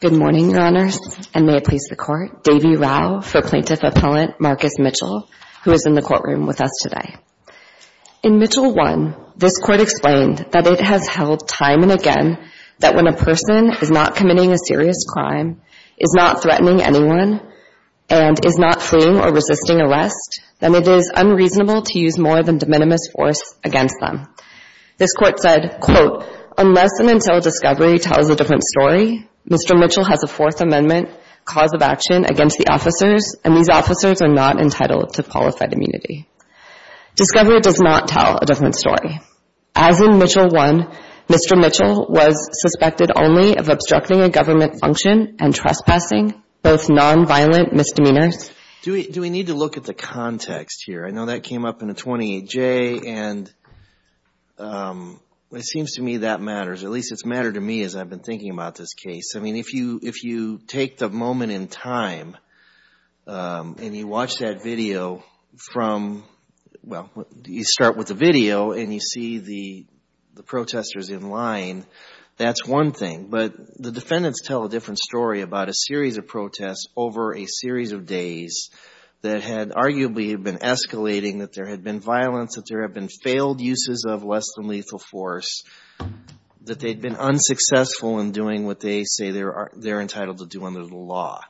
Good morning, Your Honors, and may it please the Court, Davie Rau for Plaintiff Appellant Marcus Mitchell, who is in the courtroom with us today. In Mitchell 1, this Court explained that it has held time and again that when a person is not committing a serious crime, is not threatening anyone, and is not fleeing or resisting arrest, then it is unreasonable to use more than de minimis force against them. This Court said, quote, unless and until discovery tells a different story, Mr. Mitchell has a Fourth Amendment cause of action against the officers, and these officers are not entitled to qualified immunity. Discovery does not tell a different story. As in Mitchell 1, Mr. Mitchell was suspected only of obstructing a government function and trespassing, both nonviolent misdemeanors. Do we need to look at the context here? I know that came up in the 28J, and it seems to me that matters. At least it's mattered to me as I've been thinking about this case. I mean, if you take the moment in time and you watch that video from, well, you start with the video and you see the protesters in line, that's one thing. But the defendants tell a different story about a series of protests over a series of days that had arguably been escalating, that there had been violence, that there had been failed uses of less than lethal force, that they'd been unsuccessful in doing what they say they're entitled to do under the law.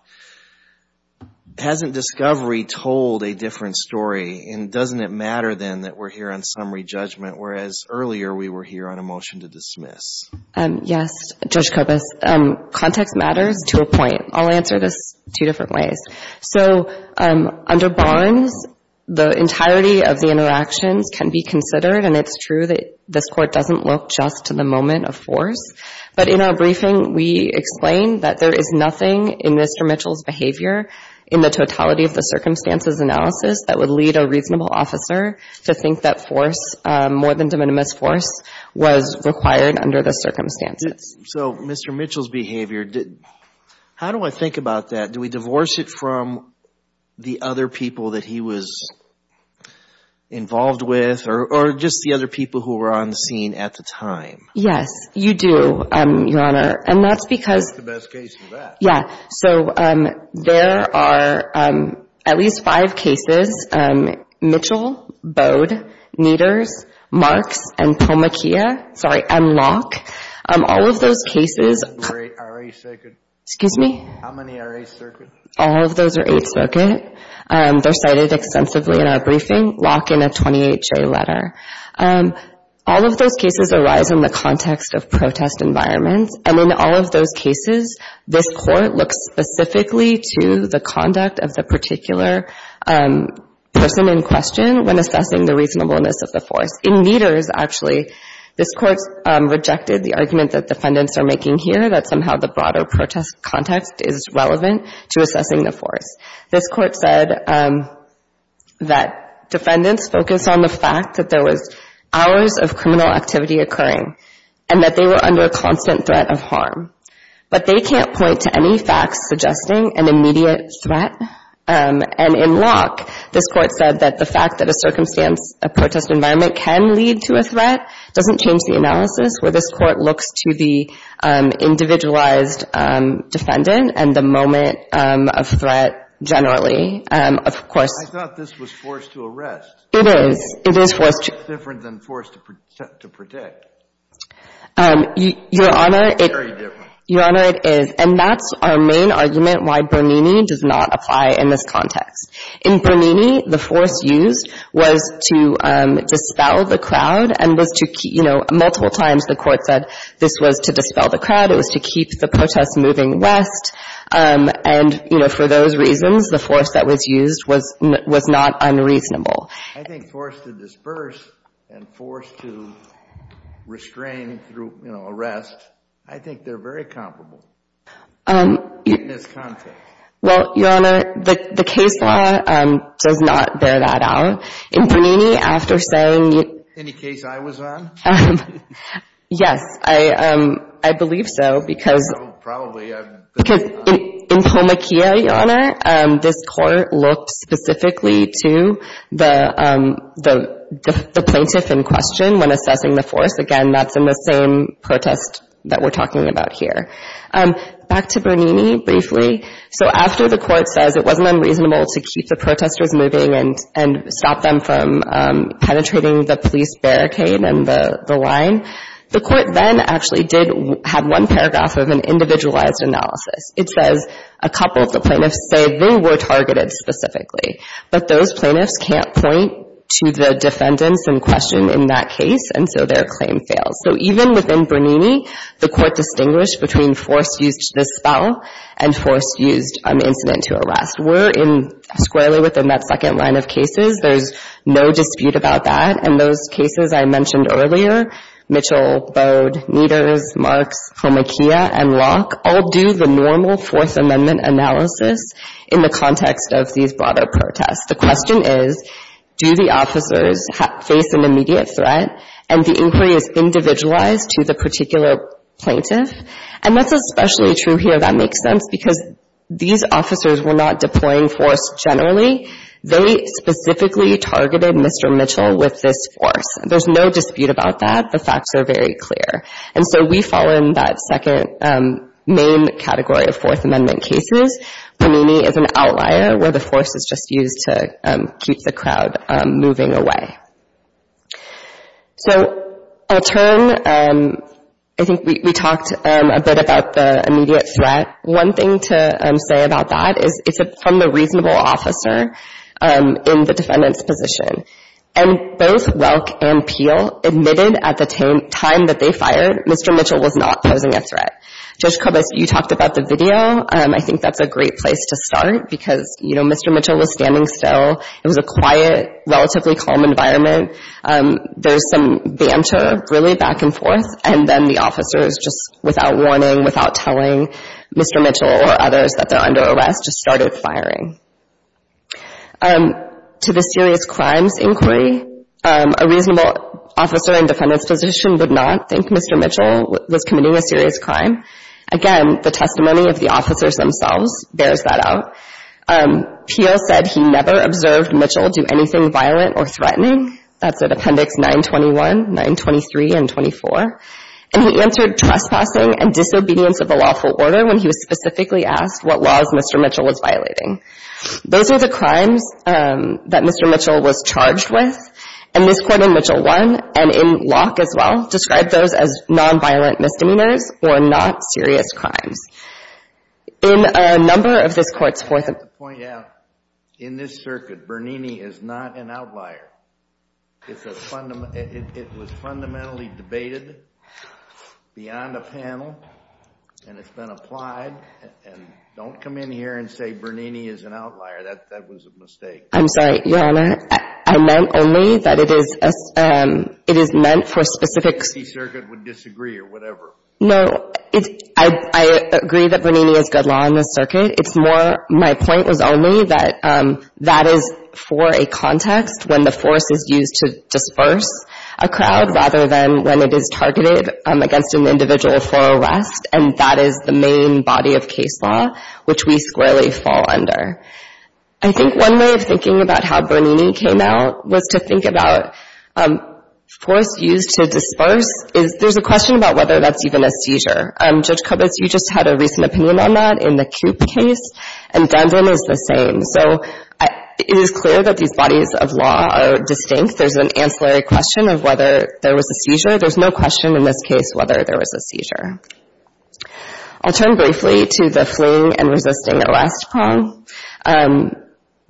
Hasn't discovery told a different story, and doesn't it matter, then, that we're here on summary judgment, whereas earlier we were here on a motion to dismiss? Yes. Judge Kobus, context matters to a point. I'll answer this two different ways. So under bonds, the entirety of the interactions can be considered, and it's true that this Court doesn't look just to the moment of force. So Mr. Mitchell's behavior, how do I think about that? Do we divorce it from the other people that he was involved with, or just the other people who were on the scene at the time? Yes, you do, Your Honor. And that's because… That's the best case for that. Yeah, so there are at least five cases. Mitchell, Bode, Neters, Marks, and Pomachia, sorry, and Locke. All of those cases… How many are eight circuit? Excuse me? How many are eight circuit? All of those are eight circuit. They're cited extensively in our briefing. Locke in a 28-J letter. All of those cases arise in the context of protest environments, and in all of those cases, this Court looks specifically to the conduct of the particular person in question when assessing the reasonableness of the force. In Neters, actually, this Court rejected the argument that defendants are making here, that somehow the broader protest context is relevant to assessing the force. This Court said that defendants focus on the fact that there was hours of criminal activity occurring and that they were under a constant threat of harm, but they can't point to any facts suggesting an immediate threat. And in Locke, this Court said that the fact that a circumstance, a protest environment, can lead to a threat doesn't change the analysis where this Court looks to the individualized defendant and the moment of threat generally. Of course… I thought this was force to arrest. It is. It is force to… It's different than force to protect. Your Honor, it… It's very different. Your Honor, it is. And that's our main argument why Bernini does not apply in this context. In Bernini, the force used was to dispel the crowd and was to, you know, multiple times the Court said this was to dispel the crowd. It was to keep the protest moving west. And, you know, for those reasons, the force that was used was not unreasonable. I think force to disperse and force to restrain through, you know, arrest, I think they're very comparable in this context. Well, Your Honor, the case law does not bear that out. In Bernini, after saying… Any case I was on? Yes, I believe so because… Probably. Because in Pomakea, Your Honor, this Court looked specifically to the plaintiff in question when assessing the force. Again, that's in the same protest that we're talking about here. Back to Bernini briefly. So after the Court says it wasn't unreasonable to keep the protesters moving and stop them from penetrating the police barricade and the line, the Court then actually did have one paragraph of an individualized analysis. It says a couple of the plaintiffs say they were targeted specifically, but those plaintiffs can't point to the defendants in question in that case, and so their claim fails. So even within Bernini, the Court distinguished between force used to dispel and force used on the incident to arrest. We're squarely within that second line of cases. There's no dispute about that, and those cases I mentioned earlier, Mitchell, Bode, Nieders, Marks, Pomakea, and Locke, all do the normal Fourth Amendment analysis in the context of these broader protests. The question is, do the officers face an immediate threat, and the inquiry is individualized to the particular plaintiff? And that's especially true here, if that makes sense, because these officers were not deploying force generally. They specifically targeted Mr. Mitchell with this force. There's no dispute about that. The facts are very clear. And so we fall in that second main category of Fourth Amendment cases. Bernini is an outlier where the force is just used to keep the crowd moving away. So I'll turn. I think we talked a bit about the immediate threat. One thing to say about that is it's from the reasonable officer in the defendant's position, and both Welk and Peel admitted at the time that they fired Mr. Mitchell was not posing a threat. Judge Kubas, you talked about the video. I think that's a great place to start because, you know, Mr. Mitchell was standing still. It was a quiet, relatively calm environment. There's some banter, really, back and forth, and then the officers, just without warning, without telling Mr. Mitchell or others that they're under arrest, just started firing. To the serious crimes inquiry, a reasonable officer and defendant's position would not think Mr. Mitchell was committing a serious crime. Again, the testimony of the officers themselves bears that out. Peel said he never observed Mitchell do anything violent or threatening. That's at Appendix 921, 923, and 24. And he answered trespassing and disobedience of a lawful order when he was specifically asked what laws Mr. Mitchell was violating. Those are the crimes that Mr. Mitchell was charged with, and this Court in Mitchell 1, and in Locke as well, described those as nonviolent misdemeanors or not serious crimes. In a number of this Court's forthcoming... I have to point out, in this circuit, Bernini is not an outlier. It was fundamentally debated beyond a panel, and it's been applied. And don't come in here and say Bernini is an outlier. That was a mistake. I'm sorry, Your Honor. I meant only that it is meant for specific... The circuit would disagree or whatever. No. I agree that Bernini is good law in this circuit. It's more... My point was only that that is for a context when the force is used to disperse a crowd rather than when it is targeted against an individual for arrest, and that is the main body of case law, which we squarely fall under. I think one way of thinking about how Bernini came out was to think about force used to disperse. There's a question about whether that's even a seizure. Judge Kubitz, you just had a recent opinion on that in the Koop case, and Dundrum is the same. So it is clear that these bodies of law are distinct. There's an ancillary question of whether there was a seizure. There's no question in this case whether there was a seizure. I'll turn briefly to the fleeing and resisting arrest prong.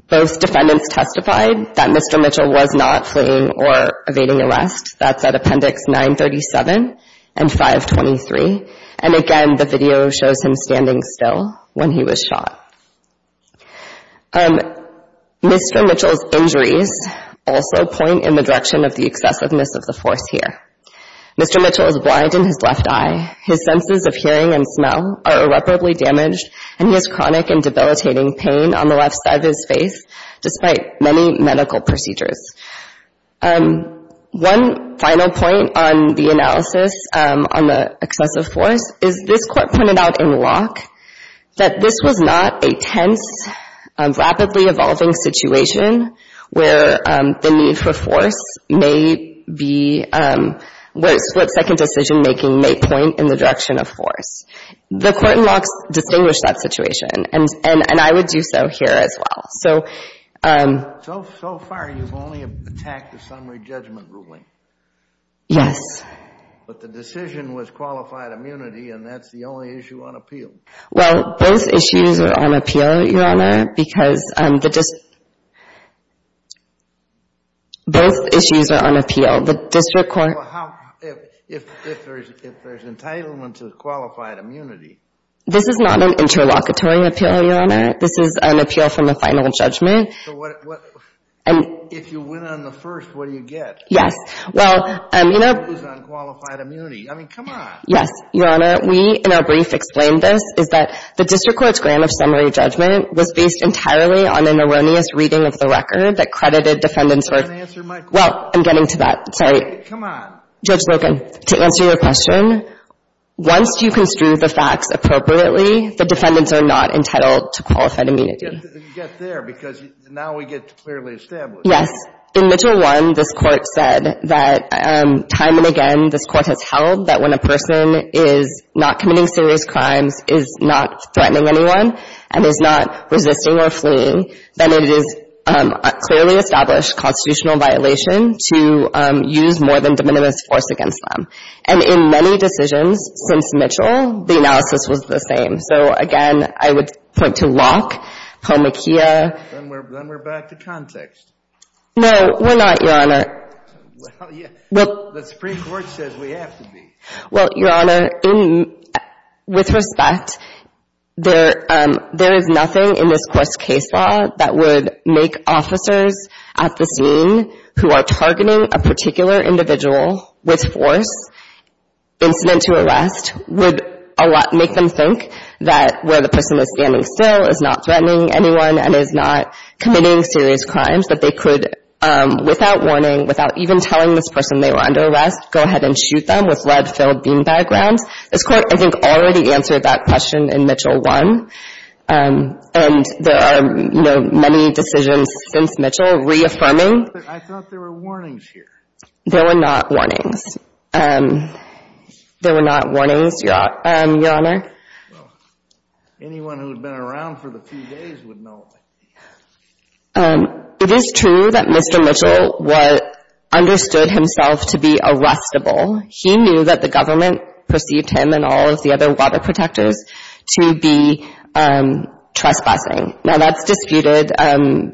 Both defendants testified that Mr. Mitchell was not fleeing or evading arrest. That's at Appendix 937 and 523, and again the video shows him standing still when he was shot. Mr. Mitchell's injuries also point in the direction of the excessiveness of the force here. Mr. Mitchell is blind in his left eye. His senses of hearing and smell are irreparably damaged, and he has chronic and debilitating pain on the left side of his face despite many medical procedures. One final point on the analysis on the excessive force is this court pointed out in Locke that this was not a tense, rapidly evolving situation where the need for force may be, where split-second decision-making may point in the direction of force. The court in Locke distinguished that situation, and I would do so here as well. So far you've only attacked the summary judgment ruling? Yes. But the decision was qualified immunity, and that's the only issue on appeal. Well, both issues are on appeal, Your Honor, because the district court— Well, if there's entitlement to qualified immunity— This is not an interlocutory appeal, Your Honor. This is an appeal from the final judgment. So if you win on the first, what do you get? Yes. Well, you know— You lose on qualified immunity. I mean, come on. Yes, Your Honor. We, in our brief, explained this, is that the district court's grant of summary judgment was based entirely on an erroneous reading of the record that credited defendants for— I didn't answer my question. Well, I'm getting to that. Sorry. Come on. Judge Brogan, to answer your question, once you construe the facts appropriately, the defendants are not entitled to qualified immunity. You get there, because now we get to clearly establish— Yes. In Mitchell I, this Court said that time and again this Court has held that when a person is not committing serious crimes, is not threatening anyone, and is not resisting or fleeing, then it is a clearly established constitutional violation to use more than de minimis force against them. And in many decisions since Mitchell, the analysis was the same. So, again, I would point to Locke, Palmaquia— Then we're back to context. No, we're not, Your Honor. Well, yeah. Well— The Supreme Court says we have to be. Well, Your Honor, with respect, there is nothing in this Court's case law that would make officers at the scene who are targeting a particular individual with force, incident to arrest, would make them think that where the person is standing still, is not threatening anyone, and is not committing serious crimes, that they could, without warning, without even telling this person they were under arrest, go ahead and shoot them with lead-filled bean bag rounds. This Court, I think, already answered that question in Mitchell I, and there are many decisions since Mitchell reaffirming— I thought there were warnings here. There were not warnings. There were not warnings, Your Honor. Well, anyone who had been around for the few days would know. It is true that Mr. Mitchell understood himself to be arrestable. He knew that the government perceived him and all of the other water protectors to be trespassing. Now, that's disputed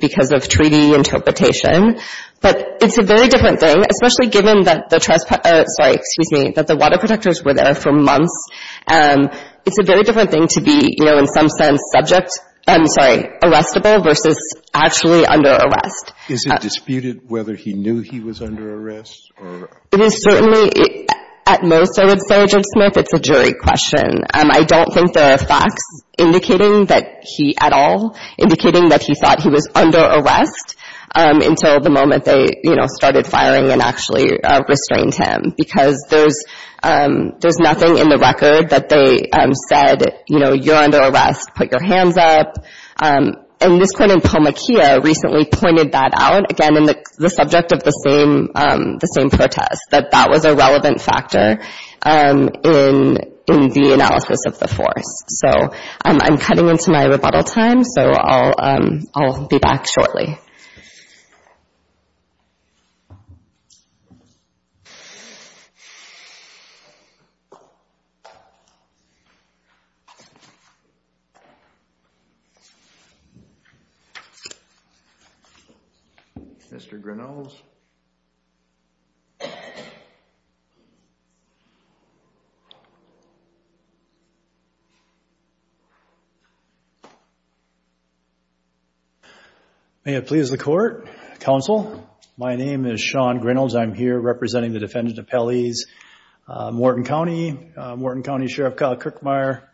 because of treaty interpretation, but it's a very different thing, especially given that the trespass — sorry, excuse me, that the water protectors were there for months. It's a very different thing to be, you know, in some sense subject — I'm sorry, arrestable versus actually under arrest. Is it disputed whether he knew he was under arrest? It is certainly — at most, I would say, Judge Smith, it's a jury question. I don't think there are facts indicating that he at all, indicating that he thought he was under arrest until the moment they, you know, started firing and actually restrained him, because there's nothing in the record that they said, you know, you're under arrest, put your hands up. And Ms. Clemente Palmaquia recently pointed that out, again, in the subject of the same protest, that that was a relevant factor in the analysis of the force. So I'm cutting into my rebuttal time, so I'll be back shortly. Thank you. Mr. Grinnells? May it please the Court, Counsel. My name is Sean Grinnells. I'm here representing the defendant appellees Morton County, Morton County Sheriff Kyle Kirkmeyer,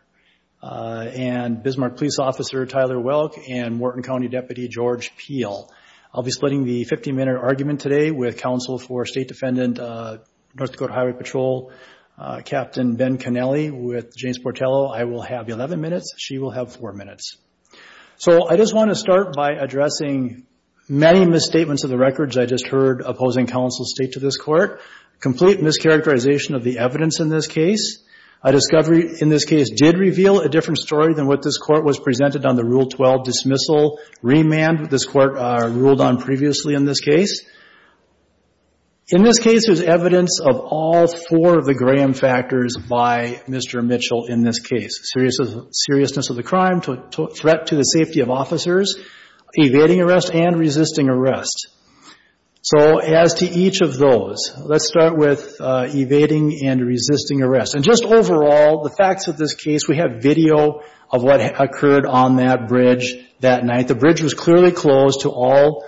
and Bismarck Police Officer Tyler Welk, and Morton County Deputy George Peel. I'll be splitting the 50-minute argument today with counsel for State Defendant North Dakota Highway Patrol Captain Ben Connelly with James Portello. I will have 11 minutes. She will have four minutes. So I just want to start by addressing many misstatements of the records I just heard opposing counsel's state to this Court. Complete mischaracterization of the evidence in this case. A discovery in this case did reveal a different story than what this Court was presented on the Rule 12 dismissal. Remand, this Court ruled on previously in this case. In this case, there's evidence of all four of the Graham factors by Mr. Mitchell in this case. Seriousness of the crime, threat to the safety of officers, evading arrest, and resisting arrest. So as to each of those, let's start with evading and resisting arrest. And just overall, the facts of this case, we have video of what occurred on that bridge that night. The bridge was clearly closed to all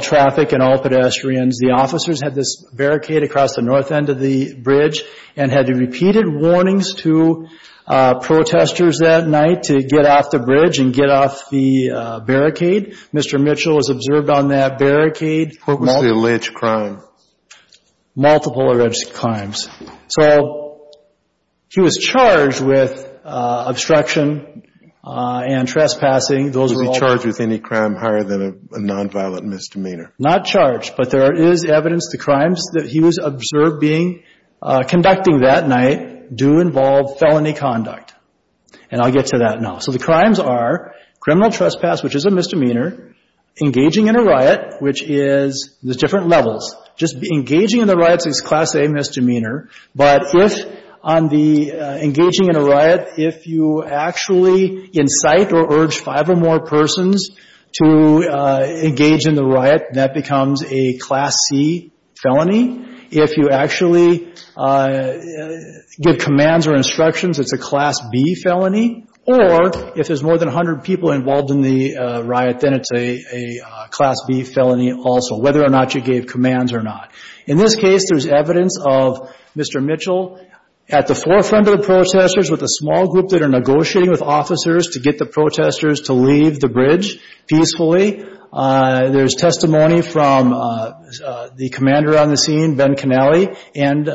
traffic and all pedestrians. The officers had this barricade across the north end of the bridge and had repeated warnings to protesters that night to get off the bridge and get off the barricade. Mr. Mitchell was observed on that barricade. Purposely alleged crime. Multiple alleged crimes. So he was charged with obstruction and trespassing. Those were all. Was he charged with any crime higher than a nonviolent misdemeanor? Not charged. But there is evidence the crimes that he was observed being, conducting that night do involve felony conduct. And I'll get to that now. So the crimes are criminal trespass, which is a misdemeanor, engaging in a riot, which is the different levels. Just engaging in the riots is Class A misdemeanor. But if on the engaging in a riot, if you actually incite or urge five or more persons to engage in the riot, that becomes a Class C felony. If you actually give commands or instructions, it's a Class B felony. Or if there's more than 100 people involved in the riot, then it's a Class B felony also. Whether or not you gave commands or not. In this case, there's evidence of Mr. Mitchell at the forefront of the protesters with a small group that are negotiating with officers to get the protesters to leave the bridge peacefully. There's testimony from the commander on the scene, Ben Connelly, and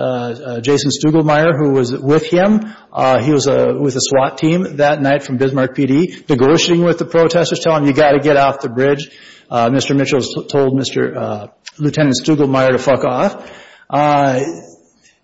Jason Stuglemire, who was with him. He was with the SWAT team that night from Bismarck PD, negotiating with the protesters, telling them you've got to get off the bridge. Mr. Mitchell told Lieutenant Stuglemire to fuck off.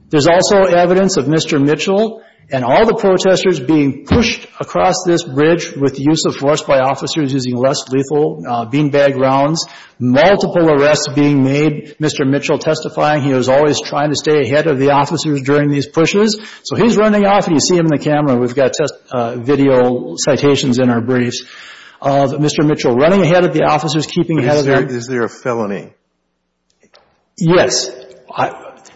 There's also evidence of Mr. Mitchell and all the protesters being pushed across this bridge with the use of force by officers using less lethal beanbag rounds. Multiple arrests being made. Mr. Mitchell testifying, he was always trying to stay ahead of the officers during these pushes. So he's running off, and you see him in the camera. We've got video citations in our briefs. Mr. Mitchell running ahead of the officers, keeping ahead of them. Is there a felony? Yes.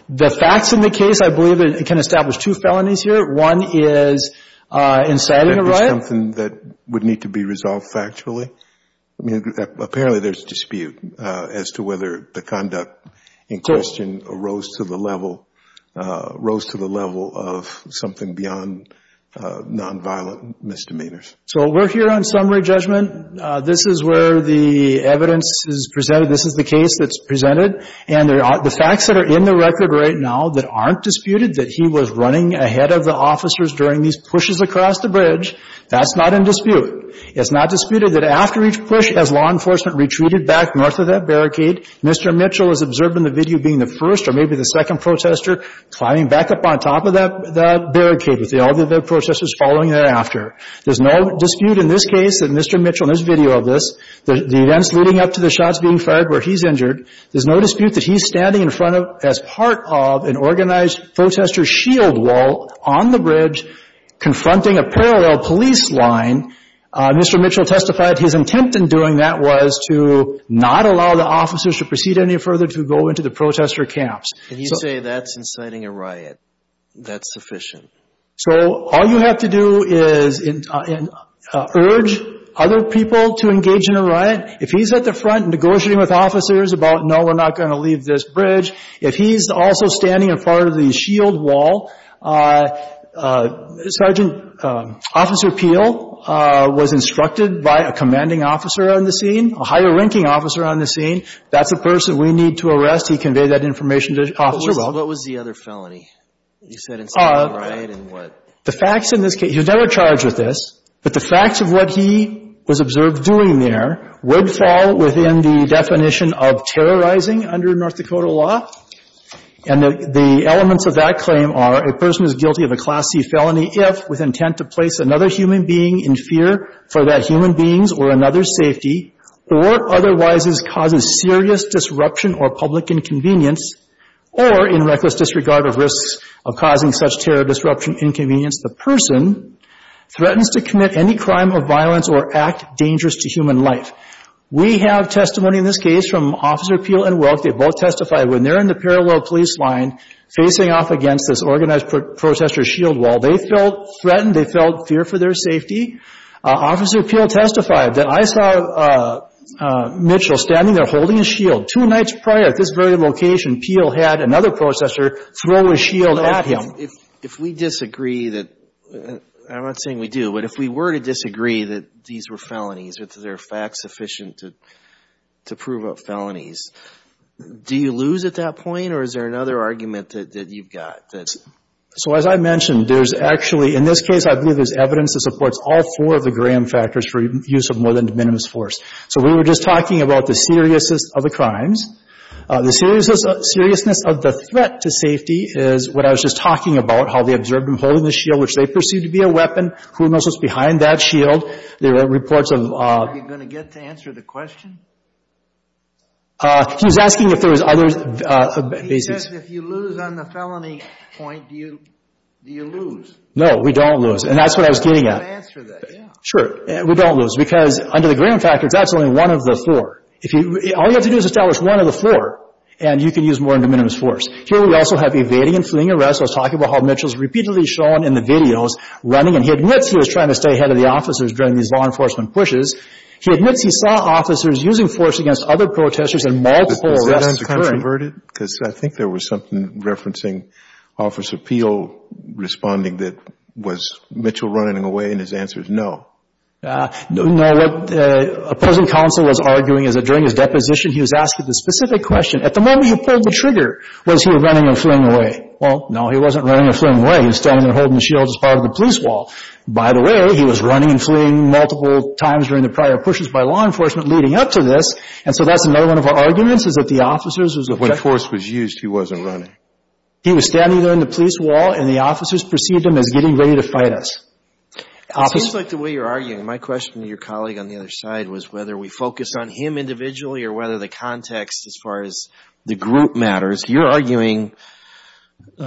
The facts in the case, I believe it can establish two felonies here. One is inciting a riot. Is that something that would need to be resolved factually? I mean, apparently there's dispute as to whether the conduct in question arose to the level of something beyond nonviolent misdemeanors. So we're here on summary judgment. This is where the evidence is presented. This is the case that's presented. And the facts that are in the record right now that aren't disputed, that he was running ahead of the officers during these pushes across the bridge, that's not in dispute. It's not disputed that after each push, as law enforcement retreated back north of that barricade, Mr. Mitchell is observed in the video being the first or maybe the second protester climbing back up on top of that barricade with all the other protesters following thereafter. There's no dispute in this case that Mr. Mitchell, in this video of this, the events leading up to the shots being fired where he's injured, there's no dispute that he's standing in front of, as part of, an organized protester shield wall on the bridge confronting a parallel police line. Mr. Mitchell testified his intent in doing that was to not allow the officers to proceed any further to go into the protester camps. And you say that's inciting a riot. That's sufficient. So all you have to do is urge other people to engage in a riot. If he's at the front negotiating with officers about, no, we're not going to leave this bridge, if he's also standing in front of the shield wall, Sergeant Officer Peel was instructed by a commanding officer on the scene, a higher ranking officer on the scene, that's the person we need to arrest. He conveyed that information to Officer Weld. So what was the other felony? You said inciting a riot and what? The facts in this case, he was never charged with this, but the facts of what he was observed doing there would fall within the definition of terrorizing under North Dakota law. And the elements of that claim are a person is guilty of a Class C felony if, with intent to place another human being in fear for that human being's or another's safety, or otherwise causes serious disruption or public inconvenience, or in reckless disregard of risks of causing such terror, disruption, inconvenience, the person threatens to commit any crime of violence or act dangerous to human life. We have testimony in this case from Officer Peel and Weld. They both testified when they're in the parallel police line facing off against this organized protester's shield wall. They felt threatened. They felt fear for their safety. Officer Peel testified that, I saw Mitchell standing there holding his shield. Two nights prior at this very location, Peel had another protester throw his shield at him. If we disagree that, I'm not saying we do, but if we were to disagree that these were felonies or that they're facts sufficient to prove felonies, do you lose at that point or is there another argument that you've got? So as I mentioned, there's actually, in this case, I believe there's evidence that supports all four of the Graham factors for use of more than de minimis force. So we were just talking about the seriousness of the crimes. The seriousness of the threat to safety is what I was just talking about, how they observed him holding the shield, which they perceived to be a weapon. Who knows what's behind that shield? There are reports of... Are you going to get to answer the question? He was asking if there was other basis. If you lose on the felony point, do you lose? No, we don't lose. And that's what I was getting at. I'm going to answer that, yeah. Sure. We don't lose because under the Graham factors, that's only one of the four. All you have to do is establish one of the four and you can use more than de minimis force. Here we also have evading and fleeing arrests. I was talking about how Mitchell's repeatedly shown in the videos running and he admits he was trying to stay ahead of the officers during these law enforcement pushes. He admits he saw officers using force against other protesters in multiple arrests occurring. Have you heard it? Because I think there was something referencing Officer Peel responding that was Mitchell running away and his answer is no. No, what opposing counsel was arguing is that during his deposition, he was asked a specific question. At the moment he pulled the trigger, was he running and fleeing away? Well, no, he wasn't running or fleeing away. He was standing there holding the shield as part of the police wall. By the way, he was running and fleeing multiple times during the prior pushes by law enforcement leading up to this. And so that's another one of our arguments is that the officers was effected. When force was used, he wasn't running. He was standing there in the police wall and the officers perceived him as getting ready to fight us. It seems like the way you're arguing, my question to your colleague on the other side, was whether we focus on him individually or whether the context as far as the group matters. You're arguing a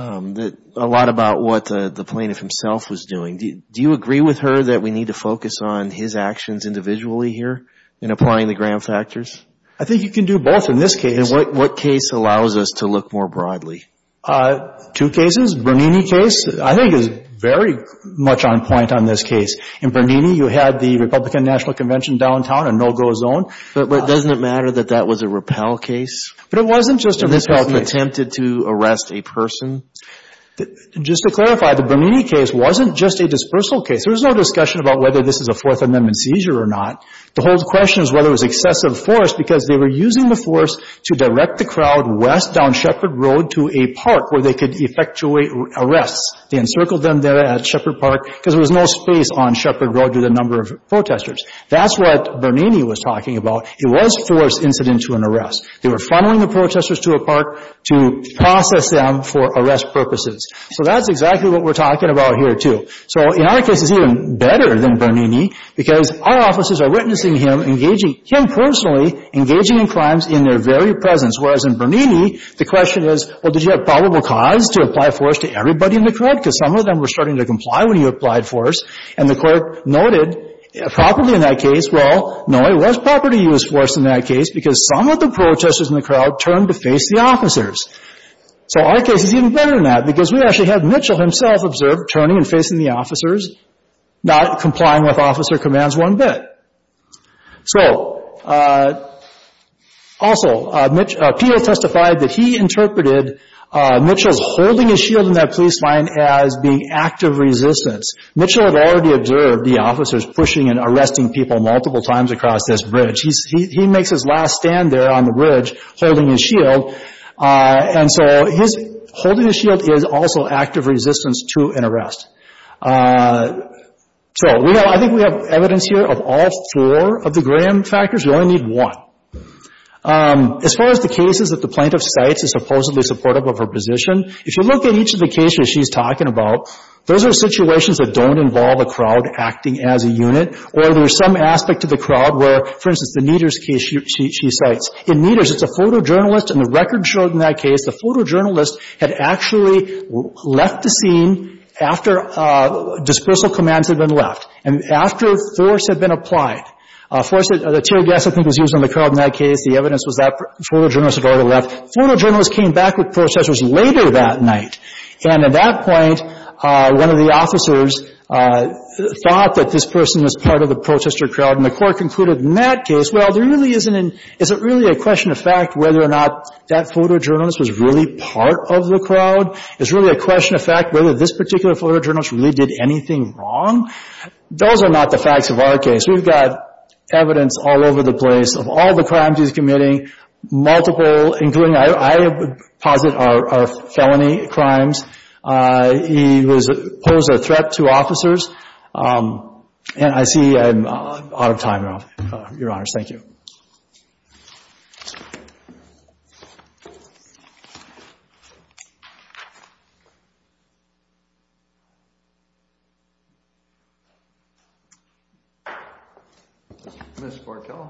lot about what the plaintiff himself was doing. Do you agree with her that we need to focus on his actions individually here in applying the Graham factors? I think you can do both in this case. And what case allows us to look more broadly? Two cases. Bernini case I think is very much on point on this case. In Bernini, you had the Republican National Convention downtown, a no-go zone. But doesn't it matter that that was a Rappel case? But it wasn't just a Rappel case. And Rappel attempted to arrest a person? Just to clarify, the Bernini case wasn't just a dispersal case. There was no discussion about whether this is a Fourth Amendment seizure or not. The whole question is whether it was excessive force because they were using the force to direct the crowd west down Shepard Road to a park where they could effectuate arrests. They encircled them there at Shepard Park because there was no space on Shepard Road with a number of protesters. That's what Bernini was talking about. It was force incident to an arrest. They were funneling the protesters to a park to process them for arrest purposes. So that's exactly what we're talking about here, too. So in our case, it's even better than Bernini because our officers are witnessing him engaging, him personally engaging in crimes in their very presence, whereas in Bernini, the question is, well, did you have probable cause to apply force to everybody in the crowd? Because some of them were starting to comply when you applied force. And the court noted properly in that case, well, no, it was properly used force in that case because some of the protesters in the crowd turned to face the officers. So our case is even better than that because we actually have Mitchell himself observed turning and facing the officers, not complying with officer commands one bit. So also, PO testified that he interpreted Mitchell's holding his shield in that police line as being active resistance. Mitchell had already observed the officers pushing and arresting people multiple times across this bridge. He makes his last stand there on the bridge holding his shield. And so his holding his shield is also active resistance to an arrest. So, you know, I think we have evidence here of all four of the Graham factors. We only need one. As far as the cases that the plaintiff cites as supposedly supportive of her position, if you look at each of the cases she's talking about, those are situations that don't involve a crowd acting as a unit, or there's some aspect to the crowd where, for instance, the Nieder's case she cites. In Nieder's, it's a photojournalist. And the record showed in that case the photojournalist had actually left the scene after dispersal commands had been left and after force had been applied. The tear gas, I think, was used on the crowd in that case. The evidence was that photojournalist had already left. Photojournalist came back with processors later that night. And at that point, one of the officers thought that this person was part of the protester crowd, and the court concluded in that case, well, there really isn't an — is it really a question of fact whether or not that photojournalist was really part of the crowd? Is it really a question of fact whether this particular photojournalist really did anything wrong? Those are not the facts of our case. We've got evidence all over the place of all the crimes he's committing, multiple, including, I would posit, are felony crimes. He posed a threat to officers. And I see I'm out of time, Your Honors. Thank you. Ms. Barkel.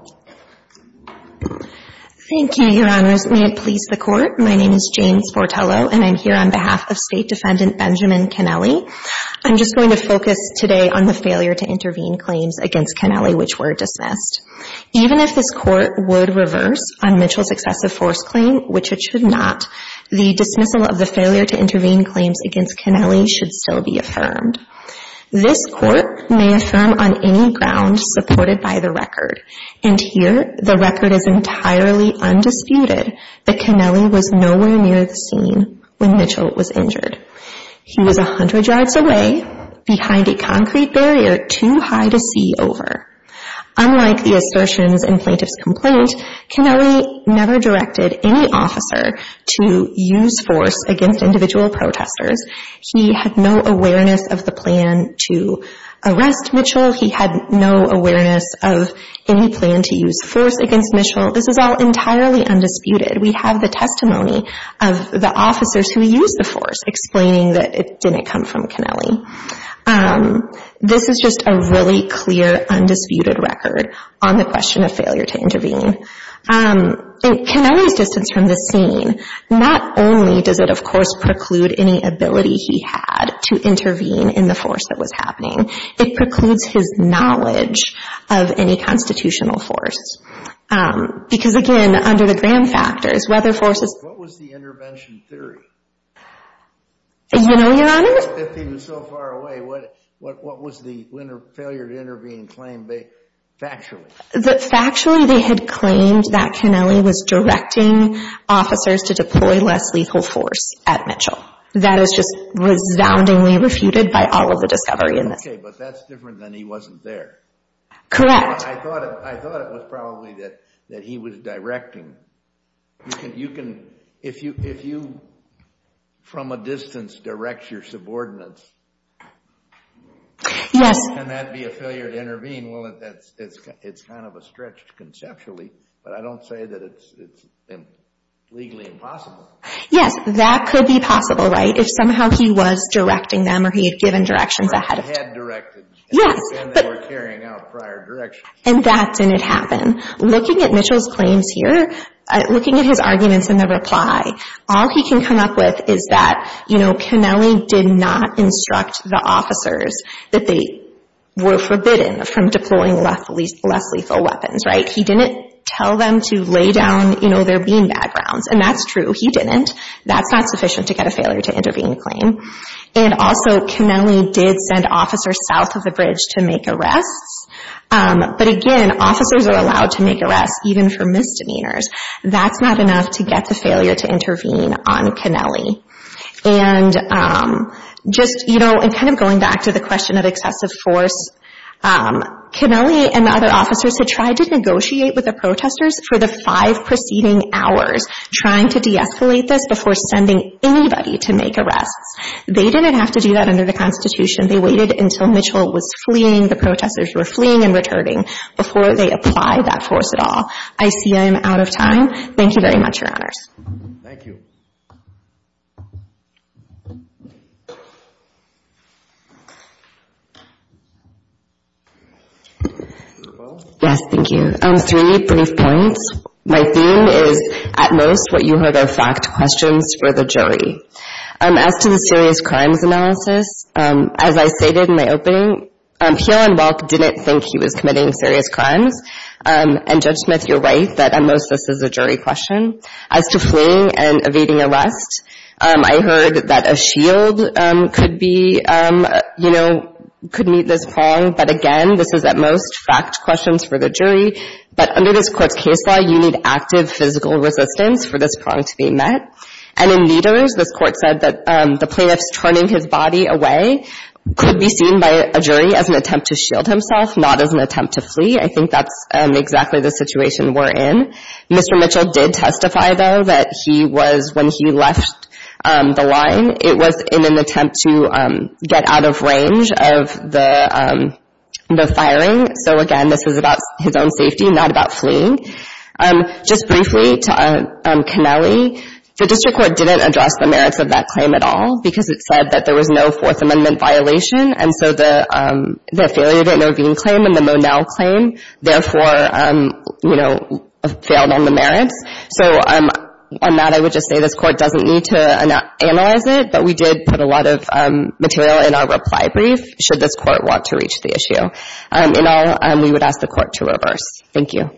Thank you, Your Honors. May it please the Court. My name is Jane Sportello, and I'm here on behalf of State Defendant Benjamin Kennelly. I'm just going to focus today on the failure to intervene claims against Kennelly which were dismissed. Even if this Court would reverse on Mitchell's excessive force claim, which it should not, the dismissal of the failure to intervene claims against Kennelly should still be affirmed. This Court may affirm on any ground supported by the record. And here the record is entirely undisputed that Kennelly was nowhere near the scene when Mitchell was injured. He was 100 yards away behind a concrete barrier too high to see over. Unlike the assertions in plaintiff's complaint, Kennelly never directed any officer to use force against individual protesters. He had no awareness of the plan to arrest Mitchell. He had no awareness of any plan to use force against Mitchell. This is all entirely undisputed. We have the testimony of the officers who used the force explaining that it didn't come from Kennelly. This is just a really clear undisputed record on the question of failure to intervene. In Kennelly's distance from the scene, not only does it, of course, preclude any ability he had to intervene in the force that was happening, it precludes his knowledge of any constitutional force. Because, again, under the Graham factors, whether forces... What was the intervention theory? You know, Your Honor? If he was so far away, what was the failure to intervene claim factually? Factually, they had claimed that Kennelly was directing officers to deploy less lethal force at Mitchell. That is just resoundingly refuted by all of the discovery in this. Okay, but that's different than he wasn't there. Correct. I thought it was probably that he was directing. If you, from a distance, direct your subordinates, can that be a failure to intervene? Well, it's kind of a stretch conceptually, but I don't say that it's legally impossible. Yes, that could be possible, right, if somehow he was directing them or he had given directions ahead of time. He had directed, and they were carrying out prior directions. And that didn't happen. Looking at Mitchell's claims here, looking at his arguments in the reply, all he can come up with is that, you know, Kennelly did not instruct the officers that they were forbidden from deploying less lethal weapons, right? He didn't tell them to lay down their bean bag rounds, and that's true. He didn't. That's not sufficient to get a failure to intervene claim. And also, Kennelly did send officers south of the bridge to make arrests. But again, officers are allowed to make arrests even for misdemeanors. That's not enough to get the failure to intervene on Kennelly. And just, you know, and kind of going back to the question of excessive force, Kennelly and the other officers had tried to negotiate with the protesters for the five preceding hours, trying to de-escalate this before sending anybody to make arrests. They didn't have to do that under the Constitution. They waited until Mitchell was fleeing, the protesters were fleeing and returning, before they applied that force at all. I see I am out of time. Thank you very much, Your Honors. Thank you. Yes, thank you. Three brief points. My theme is, at most, what you heard are fact questions for the jury. As to the serious crimes analysis, as I stated in the opening, Peele and Welk didn't think he was committing serious crimes. And Judge Smith, you're right that, at most, this is a jury question. As to fleeing and evading arrest, I heard that a shield could be, you know, could meet this prong. But, again, this is, at most, fact questions for the jury. But under this Court's case law, you need active physical resistance for this prong to be met. And in leaders, this Court said that the plaintiff's turning his body away could be seen by a jury as an attempt to shield himself, not as an attempt to flee. I think that's exactly the situation we're in. Mr. Mitchell did testify, though, that he was, when he left the line, it was in an attempt to get out of range of the firing. So, again, this was about his own safety, not about fleeing. Just briefly, to Connelly, the District Court didn't address the merits of that claim at all because it said that there was no Fourth Amendment violation. And so the failure to intervene claim and the Monell claim, therefore, you know, failed on the merits. So on that, I would just say this Court doesn't need to analyze it, but we did put a lot of material in our reply brief should this Court want to reach the issue. In all, we would ask the Court to reverse. Thank you.